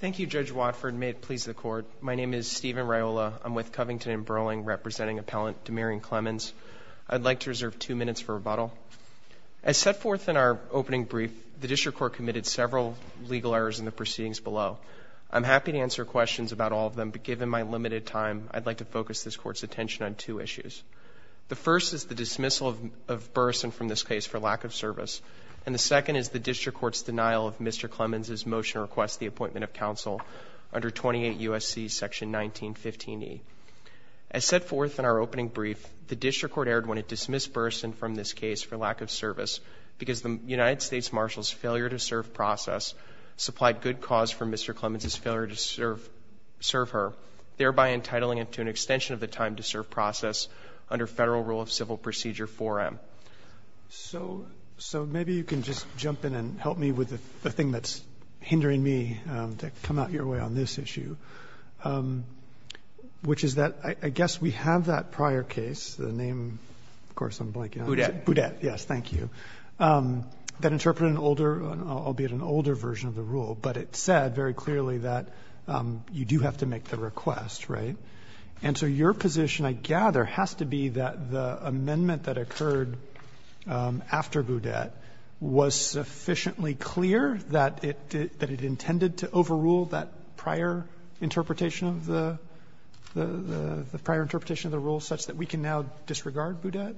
Thank you, Judge Watford. May it please the Court. My name is Stephen Riola. I'm with Covington & Burling, representing Appellant De'Marian Clemons. I'd like to reserve two minutes for rebuttal. As set forth in our opening brief, the District Court committed several legal errors in the proceedings below. I'm happy to answer questions about all of them, but given my limited time, I'd like to focus this Court's attention on two issues. The first is the dismissal of Burrison from this case for lack of service, and the second is the District Court's denial of Mr. Clemons' motion to request the appointment of counsel under 28 U.S.C. section 1915e. As set forth in our opening brief, the District Court erred when it dismissed Burrison from this case for lack of service because the United States Marshal's failure to serve process supplied good cause for Mr. Clemons' failure to serve her, thereby entitling him to an extension of the time to serve process under Federal Rule of Civil Procedure 4M. So maybe you can just jump in and help me with the thing that's hindering me to come out your way on this issue, which is that I guess we have that prior case, the name of course I'm blanking on. Boudette. Boudette, yes. Thank you. That interpreted an older, albeit an older version of the rule, but it said very clearly that you do have to make the request, right? And so your position, I gather, has to be that the amendment that occurred after Boudette was sufficiently clear that it intended to overrule that prior interpretation of the prior interpretation of the rule such that we can now disregard Boudette?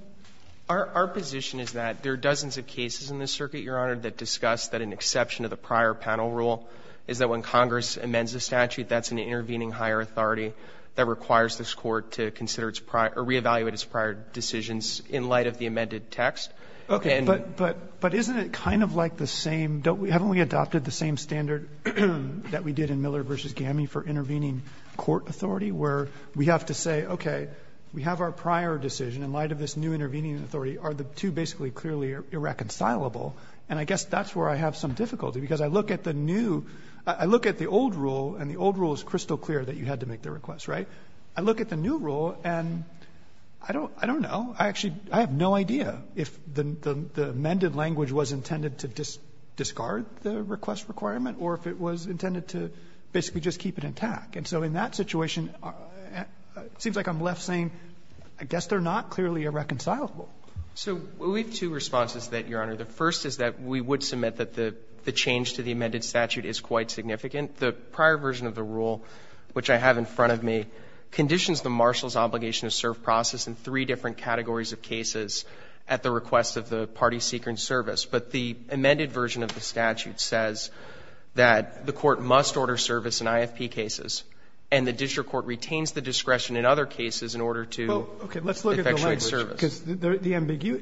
Our position is that there are dozens of cases in this circuit, Your Honor, that discuss that an exception to the prior panel rule is that when Congress amends a statute, that's an intervening higher authority that requires this Court to consider its prior or re-evaluate its prior decisions in light of the amended text. Okay. But isn't it kind of like the same? Haven't we adopted the same standard that we did in Miller v. Gami for intervening court authority, where we have to say, okay, we have our prior decision in light of this new intervening authority. Are the two basically clearly irreconcilable? And I guess that's where I have some difficulty, because I look at the new — I look at the old rule, and the old rule is crystal clear that you had to make the request, right? I look at the new rule, and I don't know. I actually — I have no idea if the amended language was intended to discard the request requirement or if it was intended to basically just keep it intact. And so in that situation, it seems like I'm left saying, I guess they're not clearly irreconcilable. So we have two responses to that, Your Honor. The first is that we would submit that the change to the amended statute is quite significant. The prior version of the rule, which I have in front of me, conditions the marshal's obligation to serve process in three different categories of cases at the request of the party seeking service. But the amended version of the statute says that the court must order service in IFP cases, and the district court retains the discretion in other cases in order to effectuate service. Well, okay, let's look at the language, because the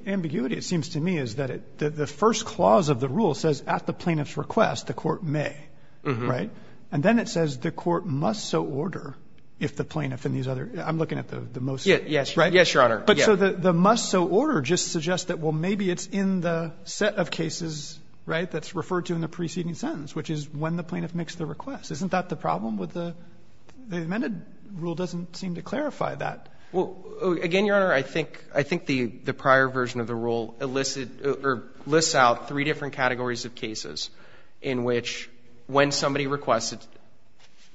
ambiguity, it seems to me, is that the first clause of the rule says, at the plaintiff's request, the court may, right? And then it says, the court must so order if the plaintiff and these other — I'm looking at the most — Yes, Your Honor. But so the must-so-order just suggests that, well, maybe it's in the set of cases, right, that's referred to in the preceding sentence, which is when the plaintiff makes the request. Isn't that the problem with the — the amended rule doesn't seem to clarify that. Well, again, Your Honor, I think — I think the prior version of the rule elicits — or lists out three different categories of cases in which, when somebody requests it,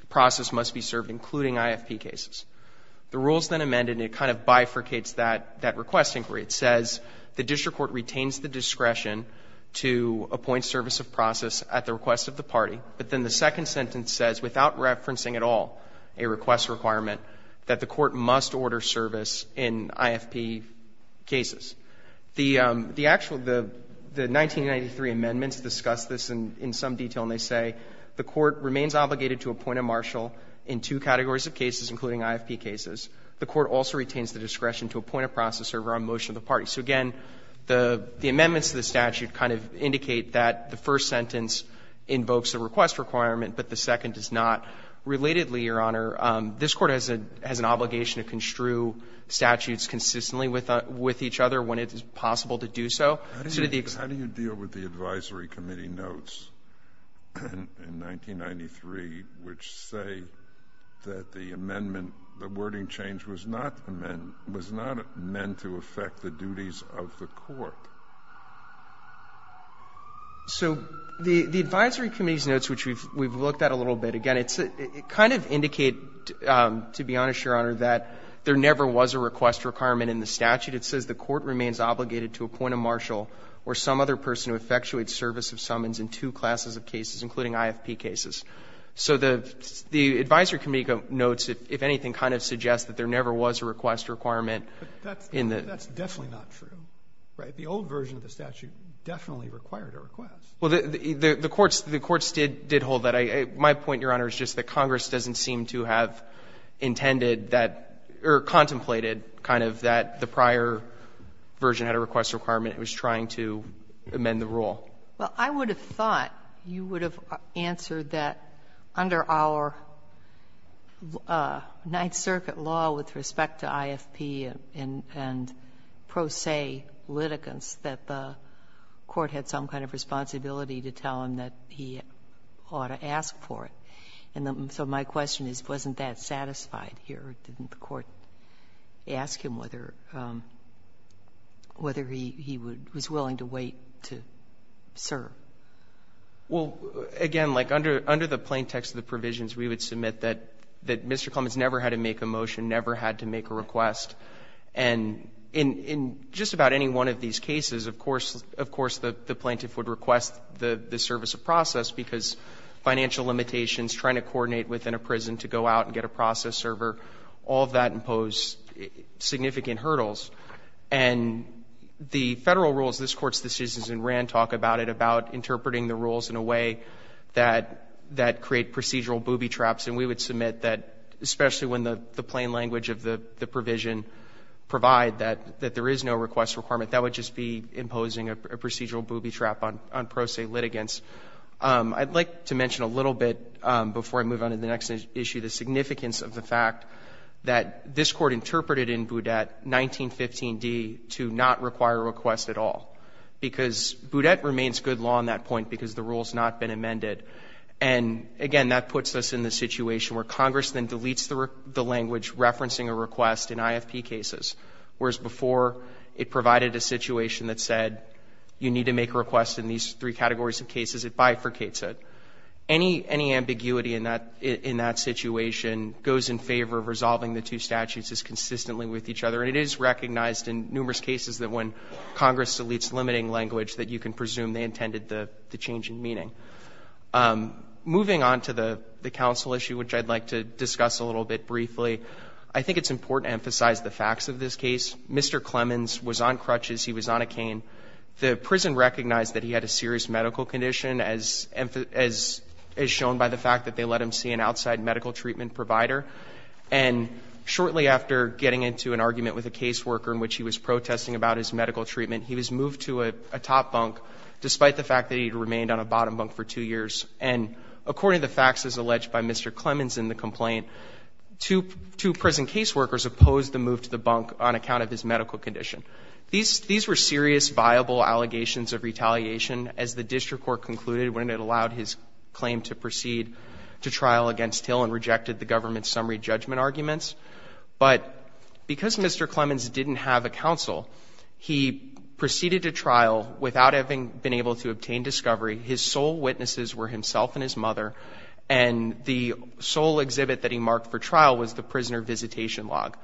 the process must be served, including IFP cases. The rule is then amended, and it kind of bifurcates that — that request inquiry. It says the district court retains the discretion to appoint service of process at the request of the party, but then the second sentence says, without referencing at all a request requirement, that the court must order service in IFP cases. The — the actual — the 1993 amendments discuss this in some detail, and they say the court remains obligated to appoint a marshal in two categories of cases, including IFP cases. The court also retains the discretion to appoint a process server on motion of the party. So, again, the amendments to the statute kind of indicate that the first sentence invokes the request requirement, but the second does not. Relatedly, Your Honor, this Court has an obligation to construe statutes consistently with each other when it is possible to do so. So did the — How do you deal with the advisory committee notes in 1993 which say that the amendment — the wording change was not meant to affect the duties of the court? So the advisory committee's notes, which we've looked at a little bit, again, it kind of indicate, to be honest, Your Honor, that there never was a request requirement in the statute. It says the court remains obligated to appoint a marshal or some other person to effectuate service of summons in two classes of cases, including IFP cases. So the — the advisory committee notes, if anything, kind of suggests that there never was a request requirement in the — But that's definitely not true, right? The old version of the statute definitely required a request. Well, the courts — the courts did hold that. My point, Your Honor, is just that Congress doesn't seem to have intended that — or that the prior version had a request requirement. It was trying to amend the rule. Well, I would have thought you would have answered that under our Ninth Circuit law with respect to IFP and pro se litigants, that the court had some kind of responsibility to tell him that he ought to ask for it. And so my question is, wasn't that satisfied here? Didn't the court ask him whether — whether he would — was willing to wait to serve? Well, again, like under — under the plaintext of the provisions, we would submit that — that Mr. Clements never had to make a motion, never had to make a request. And in — in just about any one of these cases, of course — of course, the plaintiff would request the service of process because financial limitations, trying to coordinate within a prison to go out and get a process server, all of that imposed significant hurdles. And the Federal rules, this Court's decisions in Rand talk about it, about interpreting the rules in a way that — that create procedural booby traps. And we would submit that, especially when the plain language of the provision provide that — that there is no request requirement, that would just be imposing a procedural booby trap on — on pro se litigants. I'd like to mention a little bit, before I move on to the next issue, the significance of the fact that this Court interpreted in Boudette 1915d to not require a request at all. Because Boudette remains good law on that point because the rule has not been amended. And, again, that puts us in the situation where Congress then deletes the language referencing a request in IFP cases, whereas before it provided a situation that said you need to make a request in these three categories of cases, it bifurcates it. Any — any ambiguity in that — in that situation goes in favor of resolving the two statutes as consistently with each other. And it is recognized in numerous cases that when Congress deletes limiting language that you can presume they intended the — the change in meaning. Moving on to the — the counsel issue, which I'd like to discuss a little bit briefly, I think it's important to emphasize the facts of this case. Mr. Clemens was on crutches. He was on a cane. The prison recognized that he had a serious medical condition as — as shown by the fact that they let him see an outside medical treatment provider. And shortly after getting into an argument with a caseworker in which he was protesting about his medical treatment, he was moved to a top bunk despite the fact that he had remained on a bottom bunk for two years. And according to the facts as alleged by Mr. Clemens in the complaint, two — two prison These were serious, viable allegations of retaliation as the district court concluded when it allowed his claim to proceed to trial against Hill and rejected the government's summary judgment arguments. But because Mr. Clemens didn't have a counsel, he proceeded to trial without having been able to obtain discovery. His sole witnesses were himself and his mother. And the sole exhibit that he marked for trial was the prisoner visitation log.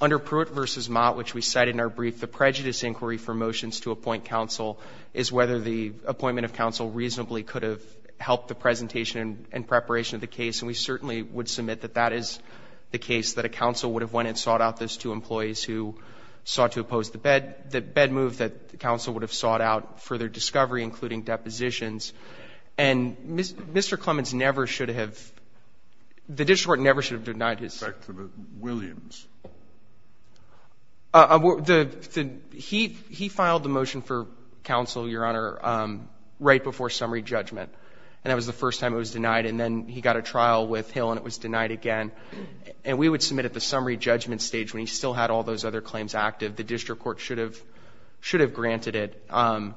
Under Pruitt v. Mott, which we cited in our brief, the prejudice inquiry for motions to appoint counsel is whether the appointment of counsel reasonably could have helped the presentation and preparation of the case. And we certainly would submit that that is the case, that a counsel would have went and sought out those two employees who sought to oppose the bed — the bed move that the counsel would have sought out for their discovery, including depositions. And Mr. Clemens never should have — the district court never should have denied his — Mr. Williams. The — he — he filed the motion for counsel, Your Honor, right before summary judgment, and that was the first time it was denied. And then he got a trial with Hill and it was denied again. And we would submit at the summary judgment stage, when he still had all those other claims active, the district court should have — should have granted it, and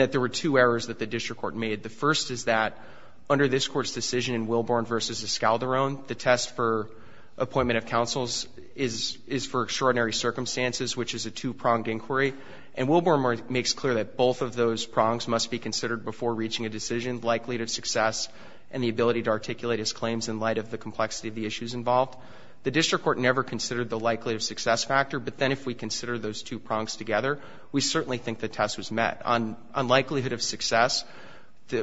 that there were two errors that the district court made. The first is that under this Court's decision in Wilborn v. Escalderon, the test for appointment of counsels is — is for extraordinary circumstances, which is a two-prong inquiry. And Wilborn makes clear that both of those prongs must be considered before reaching a decision, likelihood of success, and the ability to articulate his claims in light of the complexity of the issues involved. The district court never considered the likelihood of success factor, but then if we consider those two prongs together, we certainly think the test was met. On — on likelihood of success,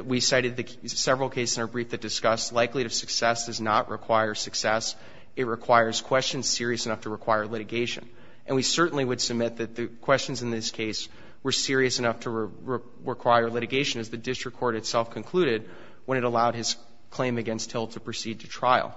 we cited several cases in our brief that discussed likelihood of success does not require success. It requires questions serious enough to require litigation. And we certainly would submit that the questions in this case were serious enough to require litigation, as the district court itself concluded when it allowed his claim against Hill to proceed to trial.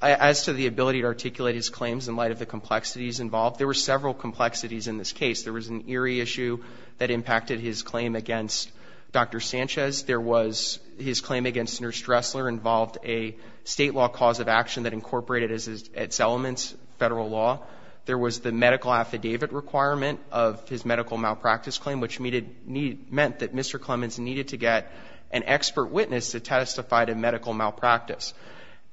As to the ability to articulate his claims in light of the complexities involved, there were several complexities in this case. There was an Erie issue that impacted his claim against Dr. Sanchez. There was his claim against Nurse Dressler involved a State law cause of action that incorporated its elements, Federal law. There was the medical affidavit requirement of his medical malpractice claim, which meant that Mr. Clemens needed to get an expert witness to testify to medical malpractice.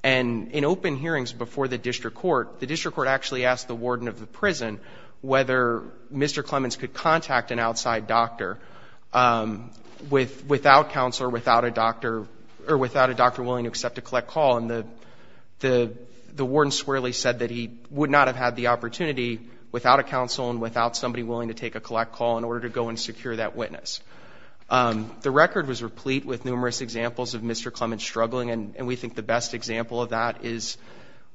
And in open hearings before the district court, the district court actually asked the warden of the prison whether Mr. Clemens could contact an outside doctor without counsel or without a doctor or without a doctor willing to accept a collect call. And the warden swearly said that he would not have had the opportunity without a counsel and without somebody willing to take a collect call in order to go and secure that witness. The record was replete with numerous examples of Mr. Clemens struggling, and we think the best example of that is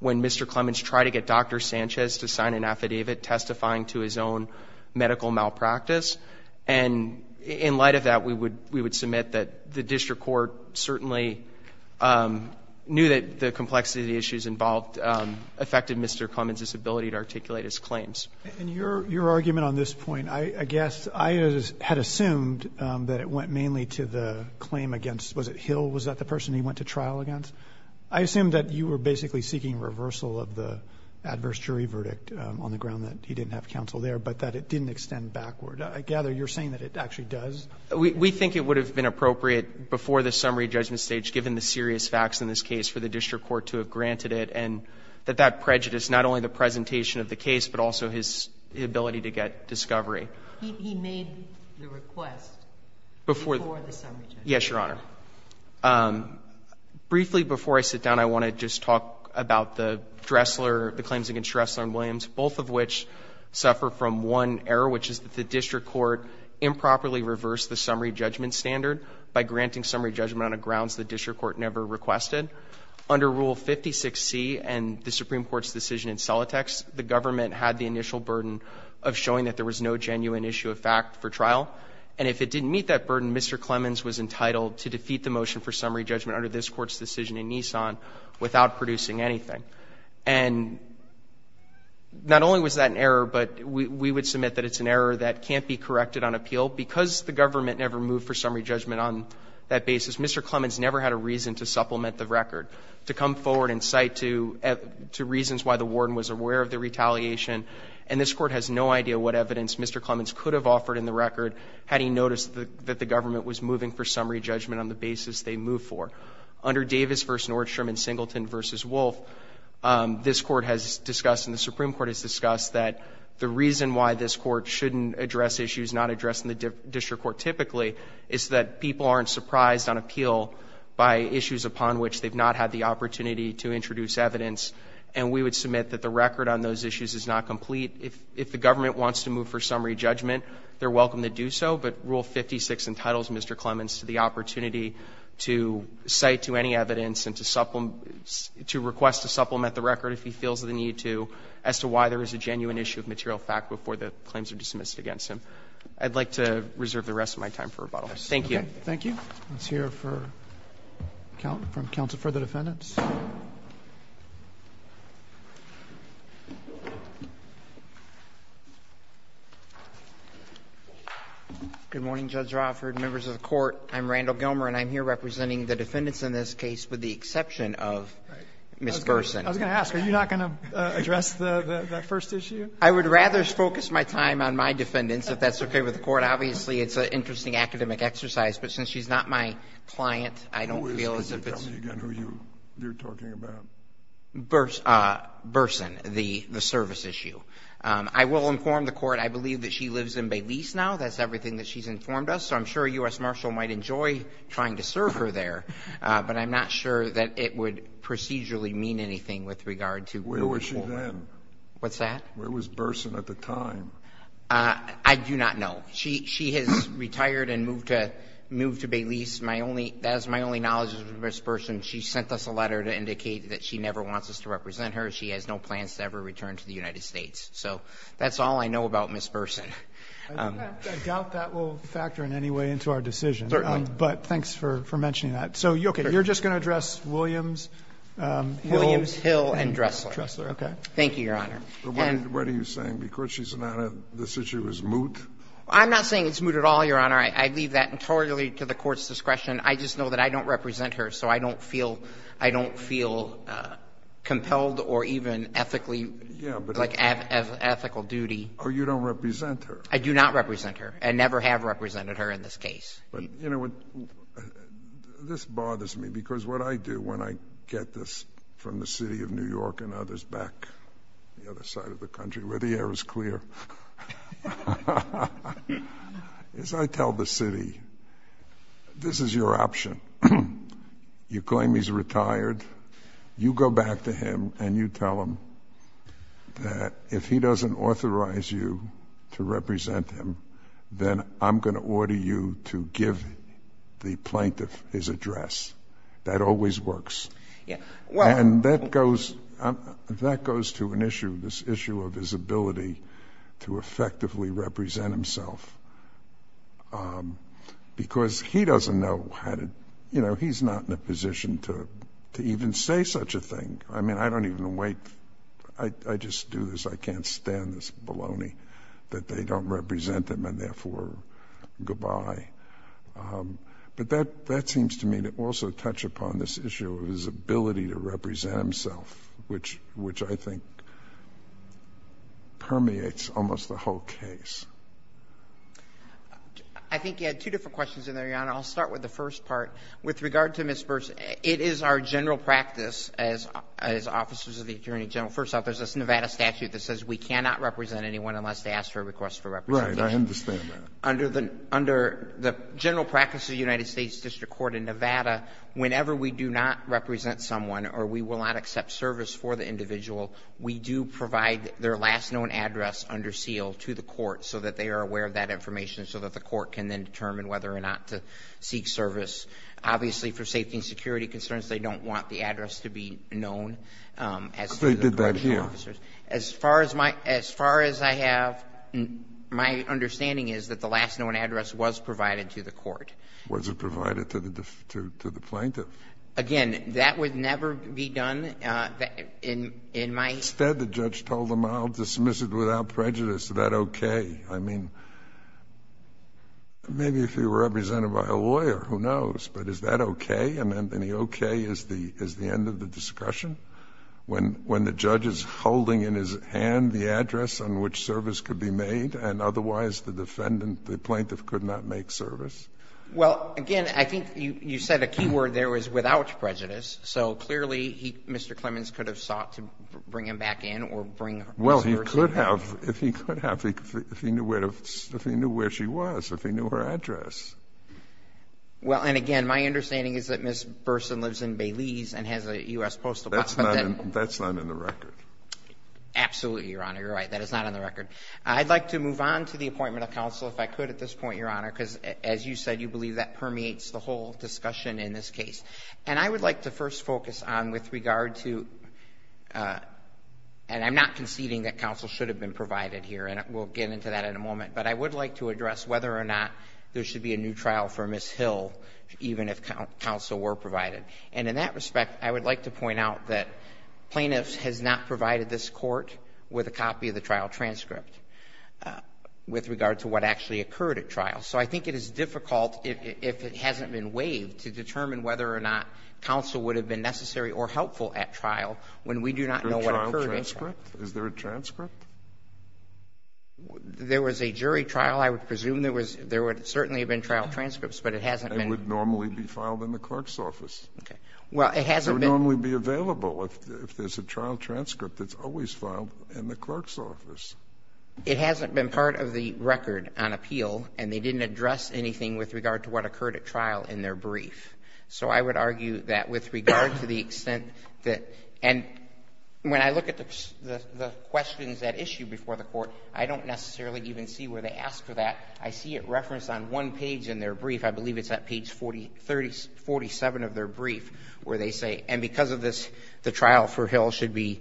when Mr. Clemens tried to get Dr. Sanchez involved in medical malpractice. And in light of that, we would submit that the district court certainly knew that the complexity of the issues involved affected Mr. Clemens' ability to articulate his claims. And your argument on this point, I guess I had assumed that it went mainly to the claim against, was it Hill? Was that the person he went to trial against? I assume that you were basically seeking reversal of the adverse jury verdict on the ground that he didn't have counsel there, but that it didn't extend backward. I gather you're saying that it actually does. We think it would have been appropriate before the summary judgment stage, given the serious facts in this case, for the district court to have granted it, and that that prejudiced not only the presentation of the case, but also his ability to get discovery. He made the request before the summary judgment. Yes, Your Honor. Briefly before I sit down, I want to just talk about the Dressler, the claims against Dressler and Williams, both of which suffer from one error, which is that the district court improperly reversed the summary judgment standard by granting summary judgment on the grounds the district court never requested. Under Rule 56C and the Supreme Court's decision in Celotex, the government had the initial burden of showing that there was no genuine issue of fact for trial. And if it didn't meet that burden, Mr. Clemens was entitled to defeat the motion for summary judgment under this Court's decision in Nissan without producing And not only was that an error, but we would submit that it's an error that can't be corrected on appeal. Because the government never moved for summary judgment on that basis, Mr. Clemens never had a reason to supplement the record, to come forward and cite to reasons why the warden was aware of the retaliation. And this Court has no idea what evidence Mr. Clemens could have offered in the record had he noticed that the government was moving for summary judgment on the basis they moved for. Under Davis v. Nordstrom and Singleton v. Wolf, this Court has discussed and the Supreme Court has discussed that the reason why this Court shouldn't address issues not addressed in the district court typically is that people aren't surprised on appeal by issues upon which they've not had the opportunity to introduce evidence. And we would submit that the record on those issues is not complete. If the government wants to move for summary judgment, they're welcome to do so. But Rule 56 entitles Mr. Clemens to the opportunity to cite to any evidence and to request to supplement the record if he feels the need to as to why there is a genuine issue of material fact before the claims are dismissed against him. I'd like to reserve the rest of my time for rebuttals. Thank you. Roberts. Thank you. Let's hear from counsel for the defendants. Good morning, Judge Roffert, members of the Court. I'm Randall Gilmer, and I'm here representing the defendants in this case, with the exception of Ms. Gerson. I was going to ask, are you not going to address the first issue? I would rather focus my time on my defendants, if that's okay with the Court. Obviously, it's an interesting academic exercise, but since she's not my client, I don't feel as if it's the case. Tell me again who you're talking about. Gerson, the service issue. I will inform the Court I believe that she lives in Bay Lise now. That's everything that she's informed us. So I'm sure U.S. Marshall might enjoy trying to serve her there, but I'm not sure that it would procedurally mean anything with regard to the Court. Where was she then? What's that? Where was Gerson at the time? I do not know. She has retired and moved to Bay Lise. That is my only knowledge of Ms. Gerson. She sent us a letter to indicate that she never wants us to represent her. She has no plans to ever return to the United States. So that's all I know about Ms. Gerson. I doubt that will factor in any way into our decision. Certainly. But thanks for mentioning that. So, okay, you're just going to address Williams, Hill. Williams, Hill, and Dressler. Dressler, okay. Thank you, Your Honor. What are you saying? Because she's not on this issue, it's moot? I'm not saying it's moot at all, Your Honor. I leave that entirely to the Court's discretion. I just know that I don't represent her, so I don't feel compelled or even ethically like ethical duty. Oh, you don't represent her. I do not represent her and never have represented her in this case. But, you know, this bothers me, because what I do when I get this from the City of New York and others back the other side of the country where the air is clear is I tell the city, this is your option. You claim he's retired. You go back to him and you tell him that if he doesn't authorize you to represent him, then I'm going to order you to give the plaintiff his address. That always works. And that goes to an issue, this issue of his ability to effectively represent himself, because he doesn't know how to, you know, he's not in a position to even say such a thing. I mean, I don't even wait. I just do this. I can't stand this baloney that they don't represent him and therefore goodbye. But that seems to me to also touch upon this issue of his ability to represent himself, which I think permeates almost the whole case. I think you had two different questions in there, Your Honor. I'll start with the first part. With regard to misperception, it is our general practice as officers of the Attorney General, first off, there's this Nevada statute that says we cannot represent anyone unless they ask for a request for representation. I understand that. Under the general practice of the United States District Court in Nevada, whenever we do not represent someone or we will not accept service for the individual, we do provide their last known address under seal to the court so that they are aware of that information so that the court can then determine whether or not to seek service. Obviously, for safety and security concerns, they don't want the address to be known as to the correctional officers. They did that here. As far as I have, my understanding is that the last known address was provided to the court. Was it provided to the plaintiff? Again, that would never be done in my. Instead, the judge told them, I'll dismiss it without prejudice. Is that okay? I mean, maybe if you were represented by a lawyer, who knows. But is that okay? And the okay is the end of the discussion? When the judge is holding in his hand the address on which service could be made and otherwise the defendant, the plaintiff, could not make service? Well, again, I think you said a key word there was without prejudice. So clearly, Mr. Clemens could have sought to bring him back in or bring Ms. Burson back in. Well, he could have. If he could have, if he knew where she was, if he knew her address. Well, and again, my understanding is that Ms. Burson lives in Baileys and has a U.S. Postal Service. That's not in the record. Absolutely, Your Honor. You're right. That is not in the record. I'd like to move on to the appointment of counsel, if I could at this point, Your Honor, because as you said, you believe that permeates the whole discussion in this case. And I would like to first focus on with regard to, and I'm not conceding that counsel should have been provided here, and we'll get into that in a moment. But I would like to address whether or not there should be a new trial for Ms. Hill even if counsel were provided. And in that respect, I would like to point out that plaintiffs has not provided this court with a copy of the trial transcript with regard to what actually occurred at trial. So I think it is difficult, if it hasn't been waived, to determine whether or not counsel would have been necessary or helpful at trial when we do not know what occurred at trial. Is there a trial transcript? Is there a transcript? There was a jury trial. I would presume there was — there would certainly have been trial transcripts, but it hasn't been. It would normally be filed in the clerk's office. Okay. Well, it hasn't been — It would normally be available if there's a trial transcript that's always filed in the clerk's office. It hasn't been part of the record on appeal, and they didn't address anything with regard to what occurred at trial in their brief. So I would argue that with regard to the extent that — and when I look at the questions at issue before the Court, I don't necessarily even see where they ask for that. I see it referenced on one page in their brief. I believe it's at page 47 of their brief where they say, and because of this, the trial for Hill should be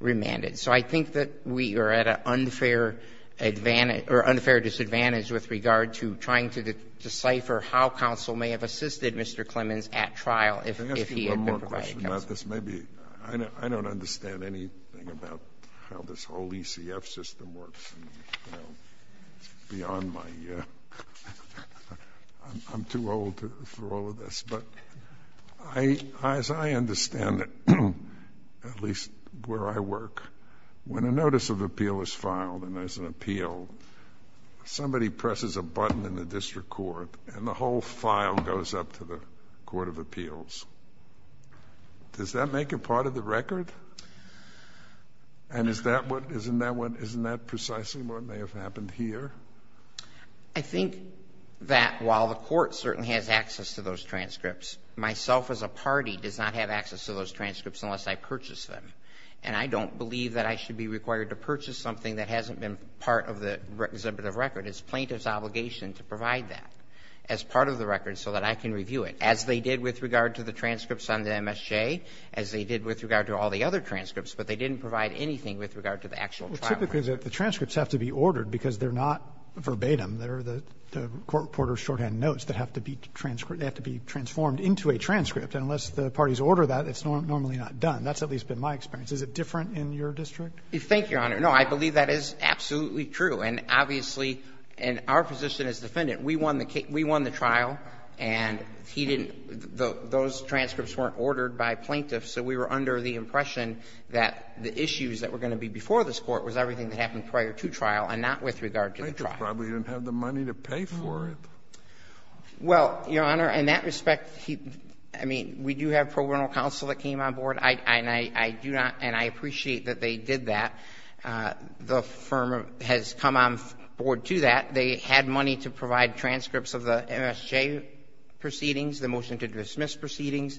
remanded. So I think that we are at an unfair advantage — or unfair disadvantage with regard to trying to decipher how counsel may have assisted Mr. Clemens at trial if he had been provided counsel. Let me ask you one more question about this. Maybe — I don't understand anything about how this whole ECF system works. It's beyond my — I'm too old for all of this. But as I understand it, at least where I work, when a notice of appeal is filed and there's an appeal, somebody presses a button in the district court, and the whole file goes up to the court of appeals. Does that make it part of the record? And is that what — isn't that what — isn't that precisely what may have happened here? I think that while the Court certainly has access to those transcripts, myself as a party does not have access to those transcripts unless I purchase them. And I don't believe that I should be required to purchase something that hasn't been part of the exhibit of record. It's plaintiff's obligation to provide that as part of the record so that I can review it, as they did with regard to the transcripts on the MSJ, as they did with regard to all the other transcripts. But they didn't provide anything with regard to the actual trial record. Well, typically the transcripts have to be ordered because they're not verbatim. They're the court reporter's shorthand notes that have to be transformed into a transcript. And unless the parties order that, it's normally not done. That's at least been my experience. Is it different in your district? Thank you, Your Honor. No, I believe that is absolutely true. And obviously — and our position as defendant, we won the trial, and he didn't — those transcripts weren't ordered by plaintiffs, so we were under the impression that the issues that were going to be before this Court was everything that happened prior to trial and not with regard to the trial. Plaintiffs probably didn't have the money to pay for it. Well, Your Honor, in that respect, he — I mean, we do have pro bono counsel that came on board, and I do not — and I appreciate that they did that. The firm has come on board to that. They had money to provide transcripts of the MSJ proceedings, the motion to dismiss proceedings,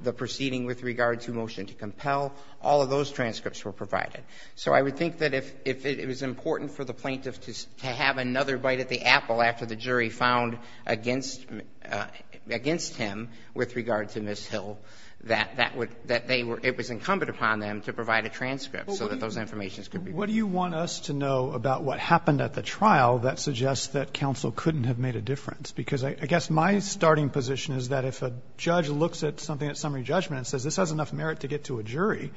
the proceeding with regard to motion to compel. All of those transcripts were provided. So I would think that if it was important for the plaintiffs to have another bite at the apple after the jury found against him with regard to Ms. Hill, that that would — that they were — it was incumbent upon them to provide a transcript so that those information could be provided. Roberts, what do you want us to know about what happened at the trial that suggests that counsel couldn't have made a difference? Because I guess my starting position is that if a judge looks at something at summary judgment and says this has enough merit to get to a jury,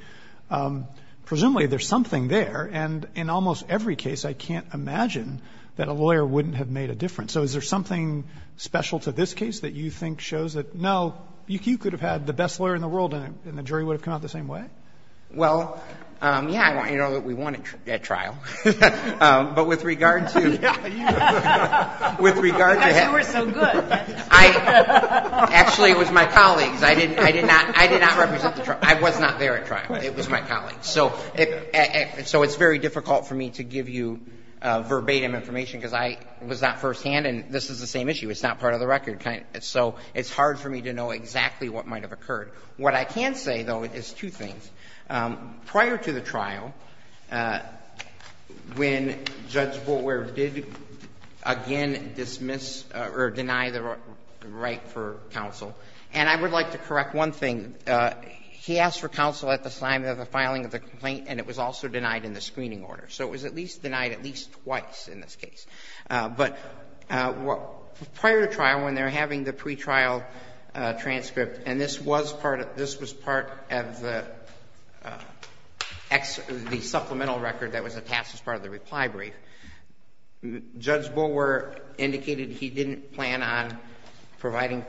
presumably there's something there. And in almost every case, I can't imagine that a lawyer wouldn't have made a difference. So is there something special to this case that you think shows that, no, you could have had the best lawyer in the world and the jury would have come out the same way? Well, yeah, I want you to know that we won at trial. But with regard to — Yeah, you — With regard to — That's why we're so good. Actually, it was my colleagues. I did not represent the trial. I was not there at trial. It was my colleagues. So it's very difficult for me to give you verbatim information, because I was not firsthand. And this is the same issue. It's not part of the record. So it's hard for me to know exactly what might have occurred. What I can say, though, is two things. Prior to the trial, when Judge Boulware did again dismiss or deny the right for counsel — and I would like to correct one thing — he asked for counsel at the time of the filing of the complaint, and it was also denied in the screening order. So it was at least denied at least twice in this case. But prior to trial, when they're having the pretrial transcript, and this was prior — this was part of the supplemental record that was attached as part of the reply brief, Judge Boulware indicated he didn't plan on providing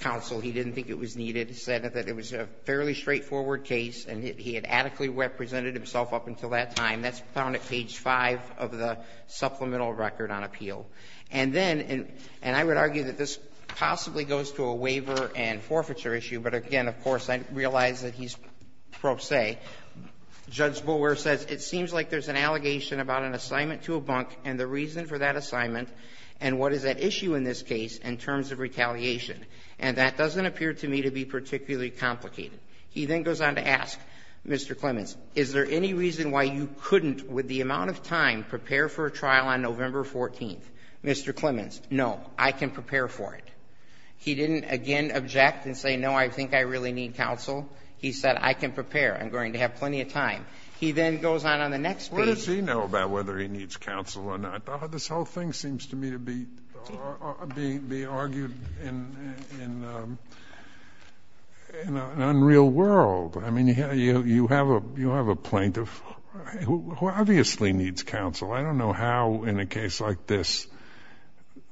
counsel. He didn't think it was needed. He said that it was a fairly straightforward case, and he had adequately represented himself up until that time. That's found at page 5 of the supplemental record on appeal. And then — and I would argue that this possibly goes to a waiver and forfeiture issue, but again, of course, I realize that he's pro se. Judge Boulware says, it seems like there's an allegation about an assignment to a bunk and the reason for that assignment and what is at issue in this case in terms of retaliation. And that doesn't appear to me to be particularly complicated. He then goes on to ask, Mr. Clemens, is there any reason why you couldn't, with the amount of time, prepare for a trial on November 14th? Mr. Clemens, no, I can prepare for it. He didn't, again, object and say, no, I think I really need counsel. He said, I can prepare. I'm going to have plenty of time. He then goes on on the next page. What does he know about whether he needs counsel or not? This whole thing seems to me to be argued in an unreal world. I mean, you have a plaintiff who obviously needs counsel. I don't know how, in a case like this,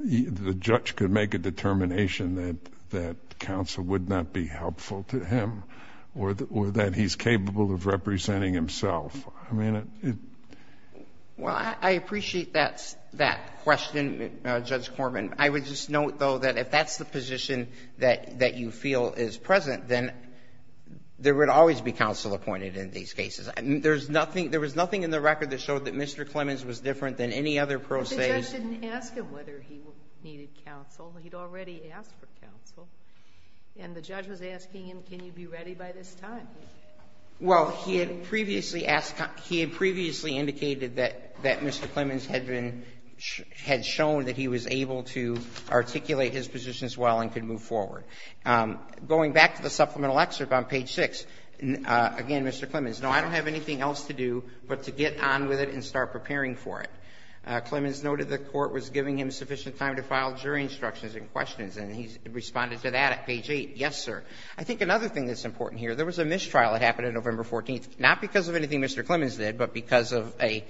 the judge could make a determination that counsel would not be helpful to him or that he's capable of representing himself. I mean, it. Well, I appreciate that question, Judge Corman. I would just note, though, that if that's the position that you feel is present, then there would always be counsel appointed in these cases. There was nothing in the record that showed that Mr. Clemens was different than any other pro se. But the judge didn't ask him whether he needed counsel. He'd already asked for counsel. And the judge was asking him, can you be ready by this time? Well, he had previously indicated that Mr. Clemens had shown that he was able to articulate his position as well and could move forward. Going back to the supplemental excerpt on page 6, again, Mr. Clemens, no, I don't have anything else to do but to get on with it and start preparing for it. Clemens noted the Court was giving him sufficient time to file jury instructions and questions, and he responded to that at page 8. Yes, sir. I think another thing that's important here, there was a mistrial that happened on November 14th, not because of anything Mr. Clemens did, but because of an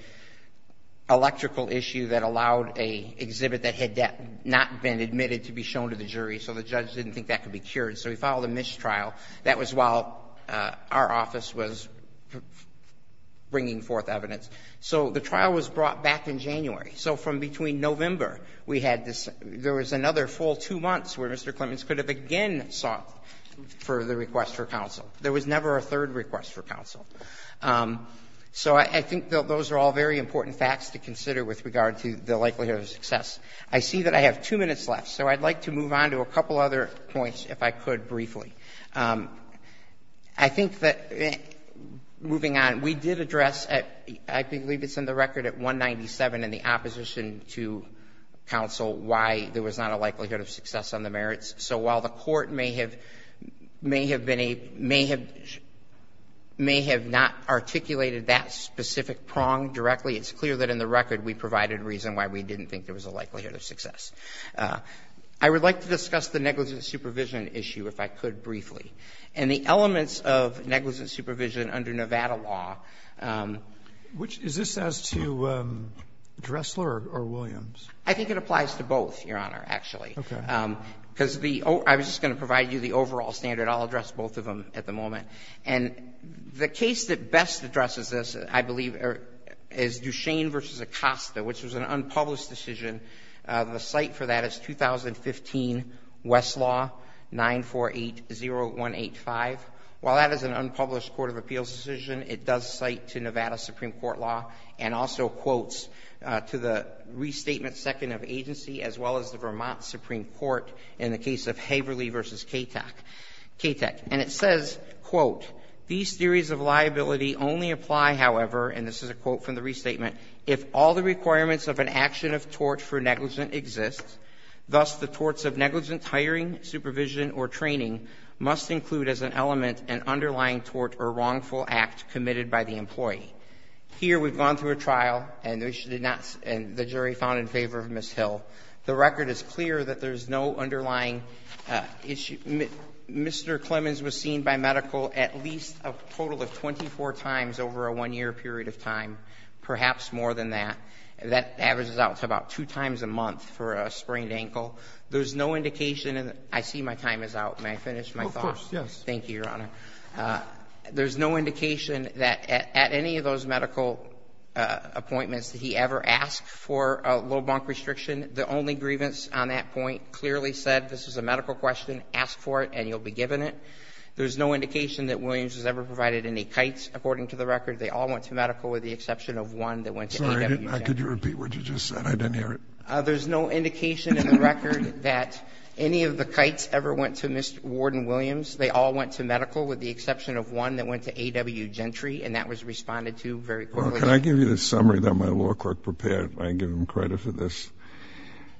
electrical issue that allowed an exhibit that had not been admitted to be shown to the jury, so the judge didn't think that could be cured. So he filed a mistrial. That was while our office was bringing forth evidence. So the trial was brought back in January. So from between November, we had this – there was another full two months where Mr. Clemens could have again sought for the request for counsel. There was never a third request for counsel. So I think those are all very important facts to consider with regard to the likelihood of success. I see that I have two minutes left, so I'd like to move on to a couple other points, if I could, briefly. I think that, moving on, we did address at – I believe it's in the record at 197 in the opposition to counsel why there was not a likelihood of success on the merits. So while the Court may have been a – may have not articulated that specific prong directly, it's clear that in the record we provided reason why we didn't think there was a likelihood of success. I would like to discuss the negligent supervision issue, if I could, briefly, and the elements of negligent supervision under Nevada law. Which – is this as to Dressler or Williams? I think it applies to both, Your Honor, actually. Okay. Because the – I was just going to provide you the overall standard. I'll address both of them at the moment. And the case that best addresses this, I believe, is Duchesne v. Acosta, which was an unpublished decision. The cite for that is 2015 Westlaw 9480185. While that is an unpublished court of appeals decision, it does cite to Nevada Supreme Court law and also quotes to the restatement second of agency, as well as the Vermont Supreme Court in the case of Haverly v. Katak. And it says, quote, these theories of liability only apply, however, and this is a quote from the restatement, if all the requirements of an action of tort for negligent exist, thus the torts of negligent hiring, supervision, or training must include as an element an underlying tort or wrongful act committed by the employee. Here we've gone through a trial, and the jury found in favor of Ms. Hill. The record is clear that there is no underlying issue. Mr. Clemens was seen by medical at least a total of 24 times over a one-year period of time, perhaps more than that. That averages out to about two times a month for a sprained ankle. There's no indication, and I see my time is out. May I finish my thought? Scalia, of course, yes. Thank you, Your Honor. There's no indication that at any of those medical appointments that he ever asked for a low bunk restriction. The only grievance on that point clearly said this is a medical question, ask for it, and you'll be given it. There's no indication that Williams has ever provided any kites, according to the record, they all went to medical with the exception of one that went to A.W. Gentry. Sorry. Could you repeat what you just said? I didn't hear it. There's no indication in the record that any of the kites ever went to Mr. Warden Williams. They all went to medical with the exception of one that went to A.W. Gentry, and that was responded to very quickly. Well, can I give you the summary that my law clerk prepared? I give him credit for this.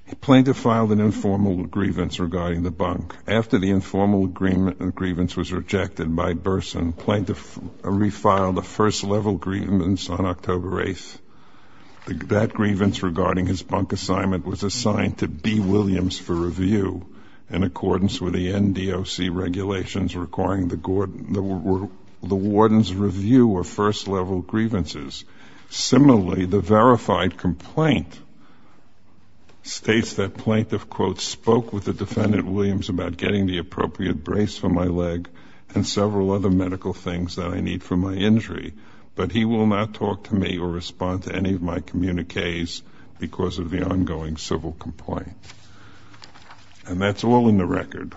The plaintiff filed an informal grievance regarding the bunk. After the informal grievance was rejected by Burson, the plaintiff refiled the first level grievance on October 8th. That grievance regarding his bunk assignment was assigned to B. Williams for review in accordance with the N. D. O.C. regulations requiring the warden's review of first level grievances. Similarly, the verified complaint states that plaintiff, quote, spoke with the defendant, Williams, about getting the appropriate brace for my leg and several other medical things that I need for my injury, but he will not talk to me or respond to any of my communiques because of the ongoing civil complaint. And that's all in the record.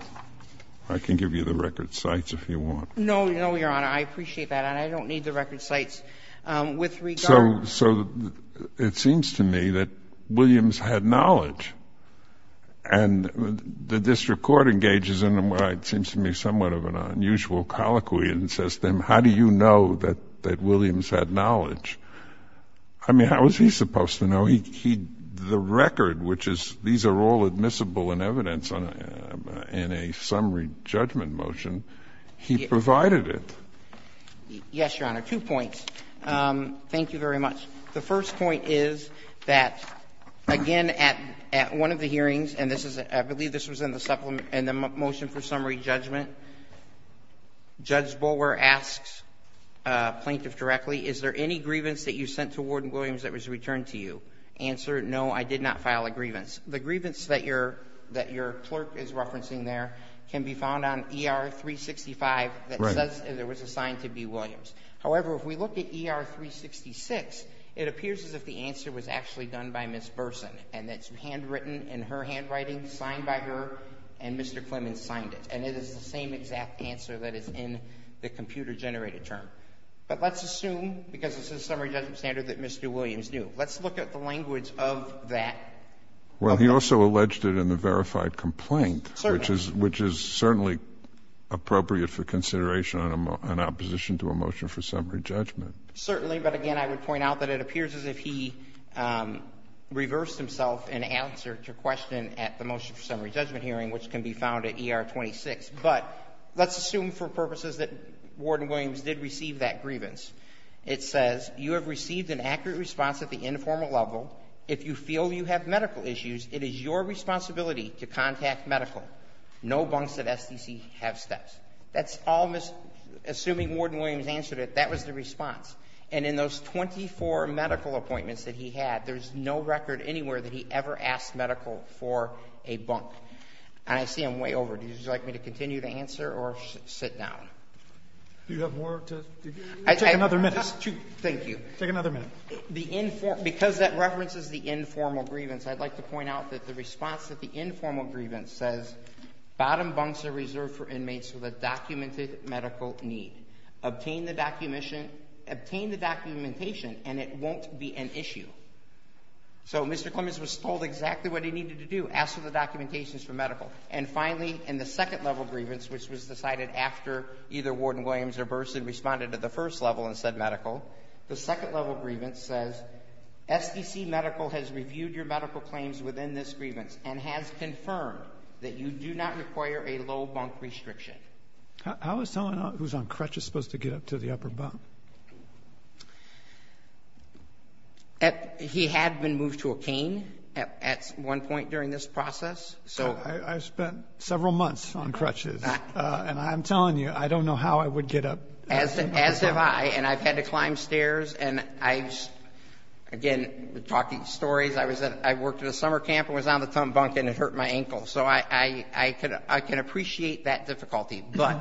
I can give you the record cites if you want. No, no, Your Honor. I appreciate that, and I don't need the record cites. So it seems to me that Williams had knowledge, and the district court engages in what seems to me somewhat of an unusual colloquy and says to him, how do you know that Williams had knowledge? I mean, how is he supposed to know? He, the record, which is, these are all admissible in evidence in a summary judgment motion, he provided it. Yes, Your Honor. Two points. Thank you very much. The first point is that, again, at one of the hearings, and this is, I believe this was in the motion for summary judgment, Judge Bulwer asks plaintiff directly, is there any grievance that you sent to Warden Williams that was returned to you? Answer, no, I did not file a grievance. The grievance that your clerk is referencing there can be found on ER-365 that says there was a sign to be Williams. However, if we look at ER-366, it appears as if the answer was actually done by Williams, that it's handwritten in her handwriting, signed by her, and Mr. Clements signed it. And it is the same exact answer that is in the computer-generated term. But let's assume, because this is a summary judgment standard that Mr. Williams knew, let's look at the language of that. Well, he also alleged it in the verified complaint. Certainly. Which is certainly appropriate for consideration on opposition to a motion for summary judgment. Certainly. But again, I would point out that it appears as if he reversed himself in answer to a question at the motion for summary judgment hearing, which can be found at ER-26. But let's assume for purposes that Warden Williams did receive that grievance. It says, you have received an accurate response at the informal level. If you feel you have medical issues, it is your responsibility to contact medical. No bunks at SDC have steps. Assuming Warden Williams answered it, that was the response. And in those 24 medical appointments that he had, there's no record anywhere that he ever asked medical for a bunk. And I see I'm way over. Would you like me to continue to answer or sit down? Do you have more to do? Take another minute. Thank you. Take another minute. Because that references the informal grievance, I'd like to point out that the response at the informal grievance says, bottom bunks are reserved for inmates with a documented medical need. Obtain the documentation and it won't be an issue. So, Mr. Clements was told exactly what he needed to do, ask for the documentations from medical. And finally, in the second level grievance, which was decided after either Warden Williams or Burson responded at the first level and said medical, the second level grievance says, SDC medical has reviewed your medical claims within this grievance and has confirmed that you do not require a low bunk restriction. How is someone who's on crutches supposed to get up to the upper bunk? He had been moved to a cane at one point during this process. I spent several months on crutches. And I'm telling you, I don't know how I would get up. As have I. And I've had to climb stairs. And I, again, talking stories, I worked at a summer camp and was on the top bunk and it hurt my ankle. So I can appreciate that difficulty. But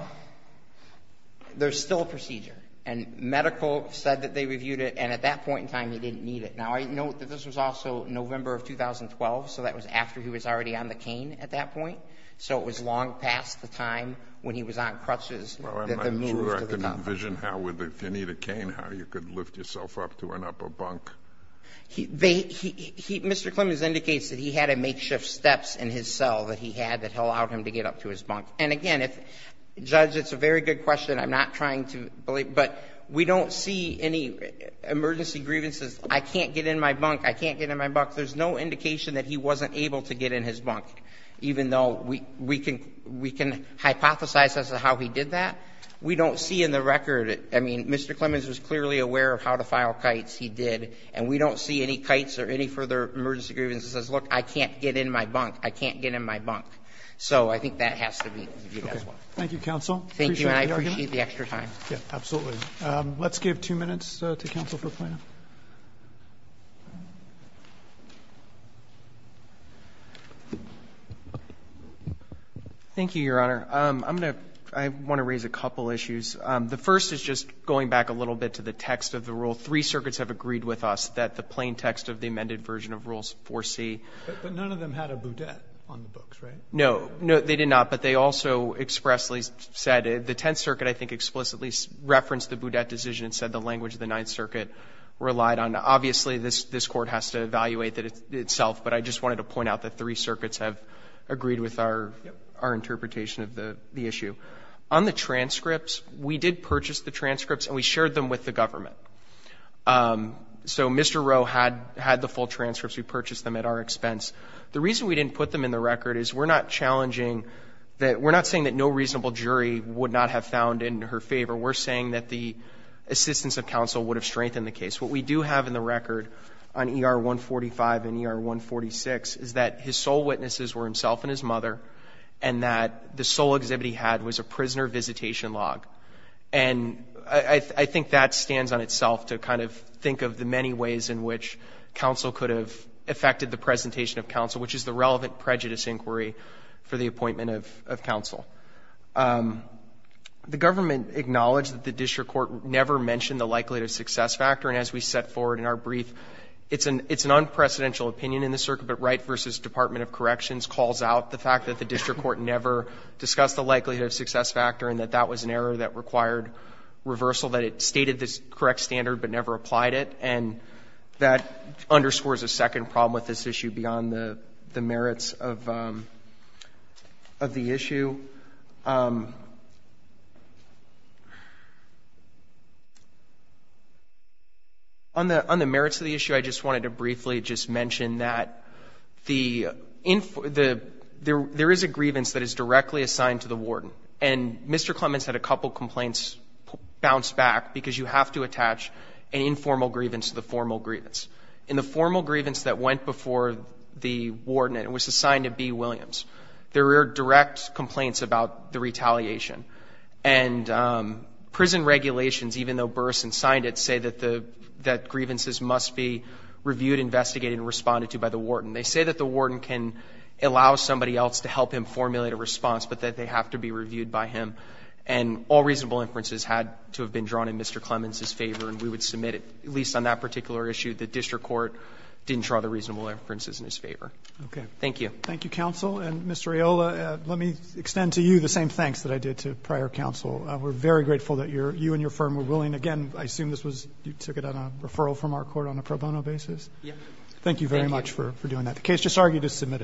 there's still a procedure. And medical said that they reviewed it. And at that point in time, he didn't need it. Now, I note that this was also November of 2012. So that was after he was already on the cane at that point. So it was long past the time when he was on crutches that they moved to the top bunk. In your vision, how would, if you need a cane, how you could lift yourself up to an upper bunk? Mr. Clemens indicates that he had a makeshift steps in his cell that he had that allowed him to get up to his bunk. And, again, Judge, it's a very good question. I'm not trying to believe. But we don't see any emergency grievances. I can't get in my bunk. I can't get in my bunk. There's no indication that he wasn't able to get in his bunk, even though we can hypothesize as to how he did that. We don't see in the record. I mean, Mr. Clemens was clearly aware of how to file kites. He did. And we don't see any kites or any further emergency grievances that says, look, I can't get in my bunk. I can't get in my bunk. So I think that has to be reviewed as well. Thank you, counsel. Appreciate the argument. Thank you, and I appreciate the extra time. Absolutely. Let's give two minutes to counsel for a plan. Thank you, Your Honor. I'm going to raise a couple issues. The first is just going back a little bit to the text of the rule. Three circuits have agreed with us that the plain text of the amended version of Rule 4C. But none of them had a boudette on the books, right? No. They did not. But they also expressly said the Tenth Circuit, I think, explicitly referenced the boudette decision and said the language of the Ninth Circuit relied on. Obviously, this Court has to evaluate that itself. But I just wanted to point out that three circuits have agreed with our interpretation of the issue. On the transcripts, we did purchase the transcripts, and we shared them with the government. So Mr. Rowe had the full transcripts. We purchased them at our expense. The reason we didn't put them in the record is we're not challenging that we're not saying that no reasonable jury would not have found in her favor. We're saying that the assistance of counsel would have strengthened the case. What we do have in the record on ER 145 and ER 146 is that his sole witnesses were himself and his mother, and that the sole exhibit he had was a prisoner visitation log. And I think that stands on itself to kind of think of the many ways in which counsel could have affected the presentation of counsel, which is the relevant prejudice inquiry for the appointment of counsel. The government acknowledged that the district court never mentioned the likelihood of success factor, and as we set forward in our brief, it's an unprecedential opinion in the circuit, but Wright v. Department of Corrections calls out the fact that the district court never discussed the likelihood of success factor and that that was an error that required reversal, that it stated the correct standard but never applied it, and that underscores a second problem with this issue beyond the merits of the issue. I think on the merits of the issue, I just wanted to briefly just mention that there is a grievance that is directly assigned to the warden, and Mr. Clements had a couple of complaints bounce back because you have to attach an informal grievance to the formal grievance. In the formal grievance that went before the warden and was assigned to B. Williams, there are direct complaints to B. Williams. And prison regulations, even though Burrson signed it, say that grievances must be reviewed, investigated, and responded to by the warden. They say that the warden can allow somebody else to help him formulate a response, but that they have to be reviewed by him. And all reasonable inferences had to have been drawn in Mr. Clements's favor, and we would submit, at least on that particular issue, the district court didn't draw the reasonable inferences in his favor. Thank you. Thank you, counsel. And Mr. Aiola, let me extend to you the same thanks that I did to prior counsel. We're very grateful that you and your firm were willing. Again, I assume you took it on a referral from our court on a pro bono basis? Yes. Thank you very much for doing that. The case just argued is submitted.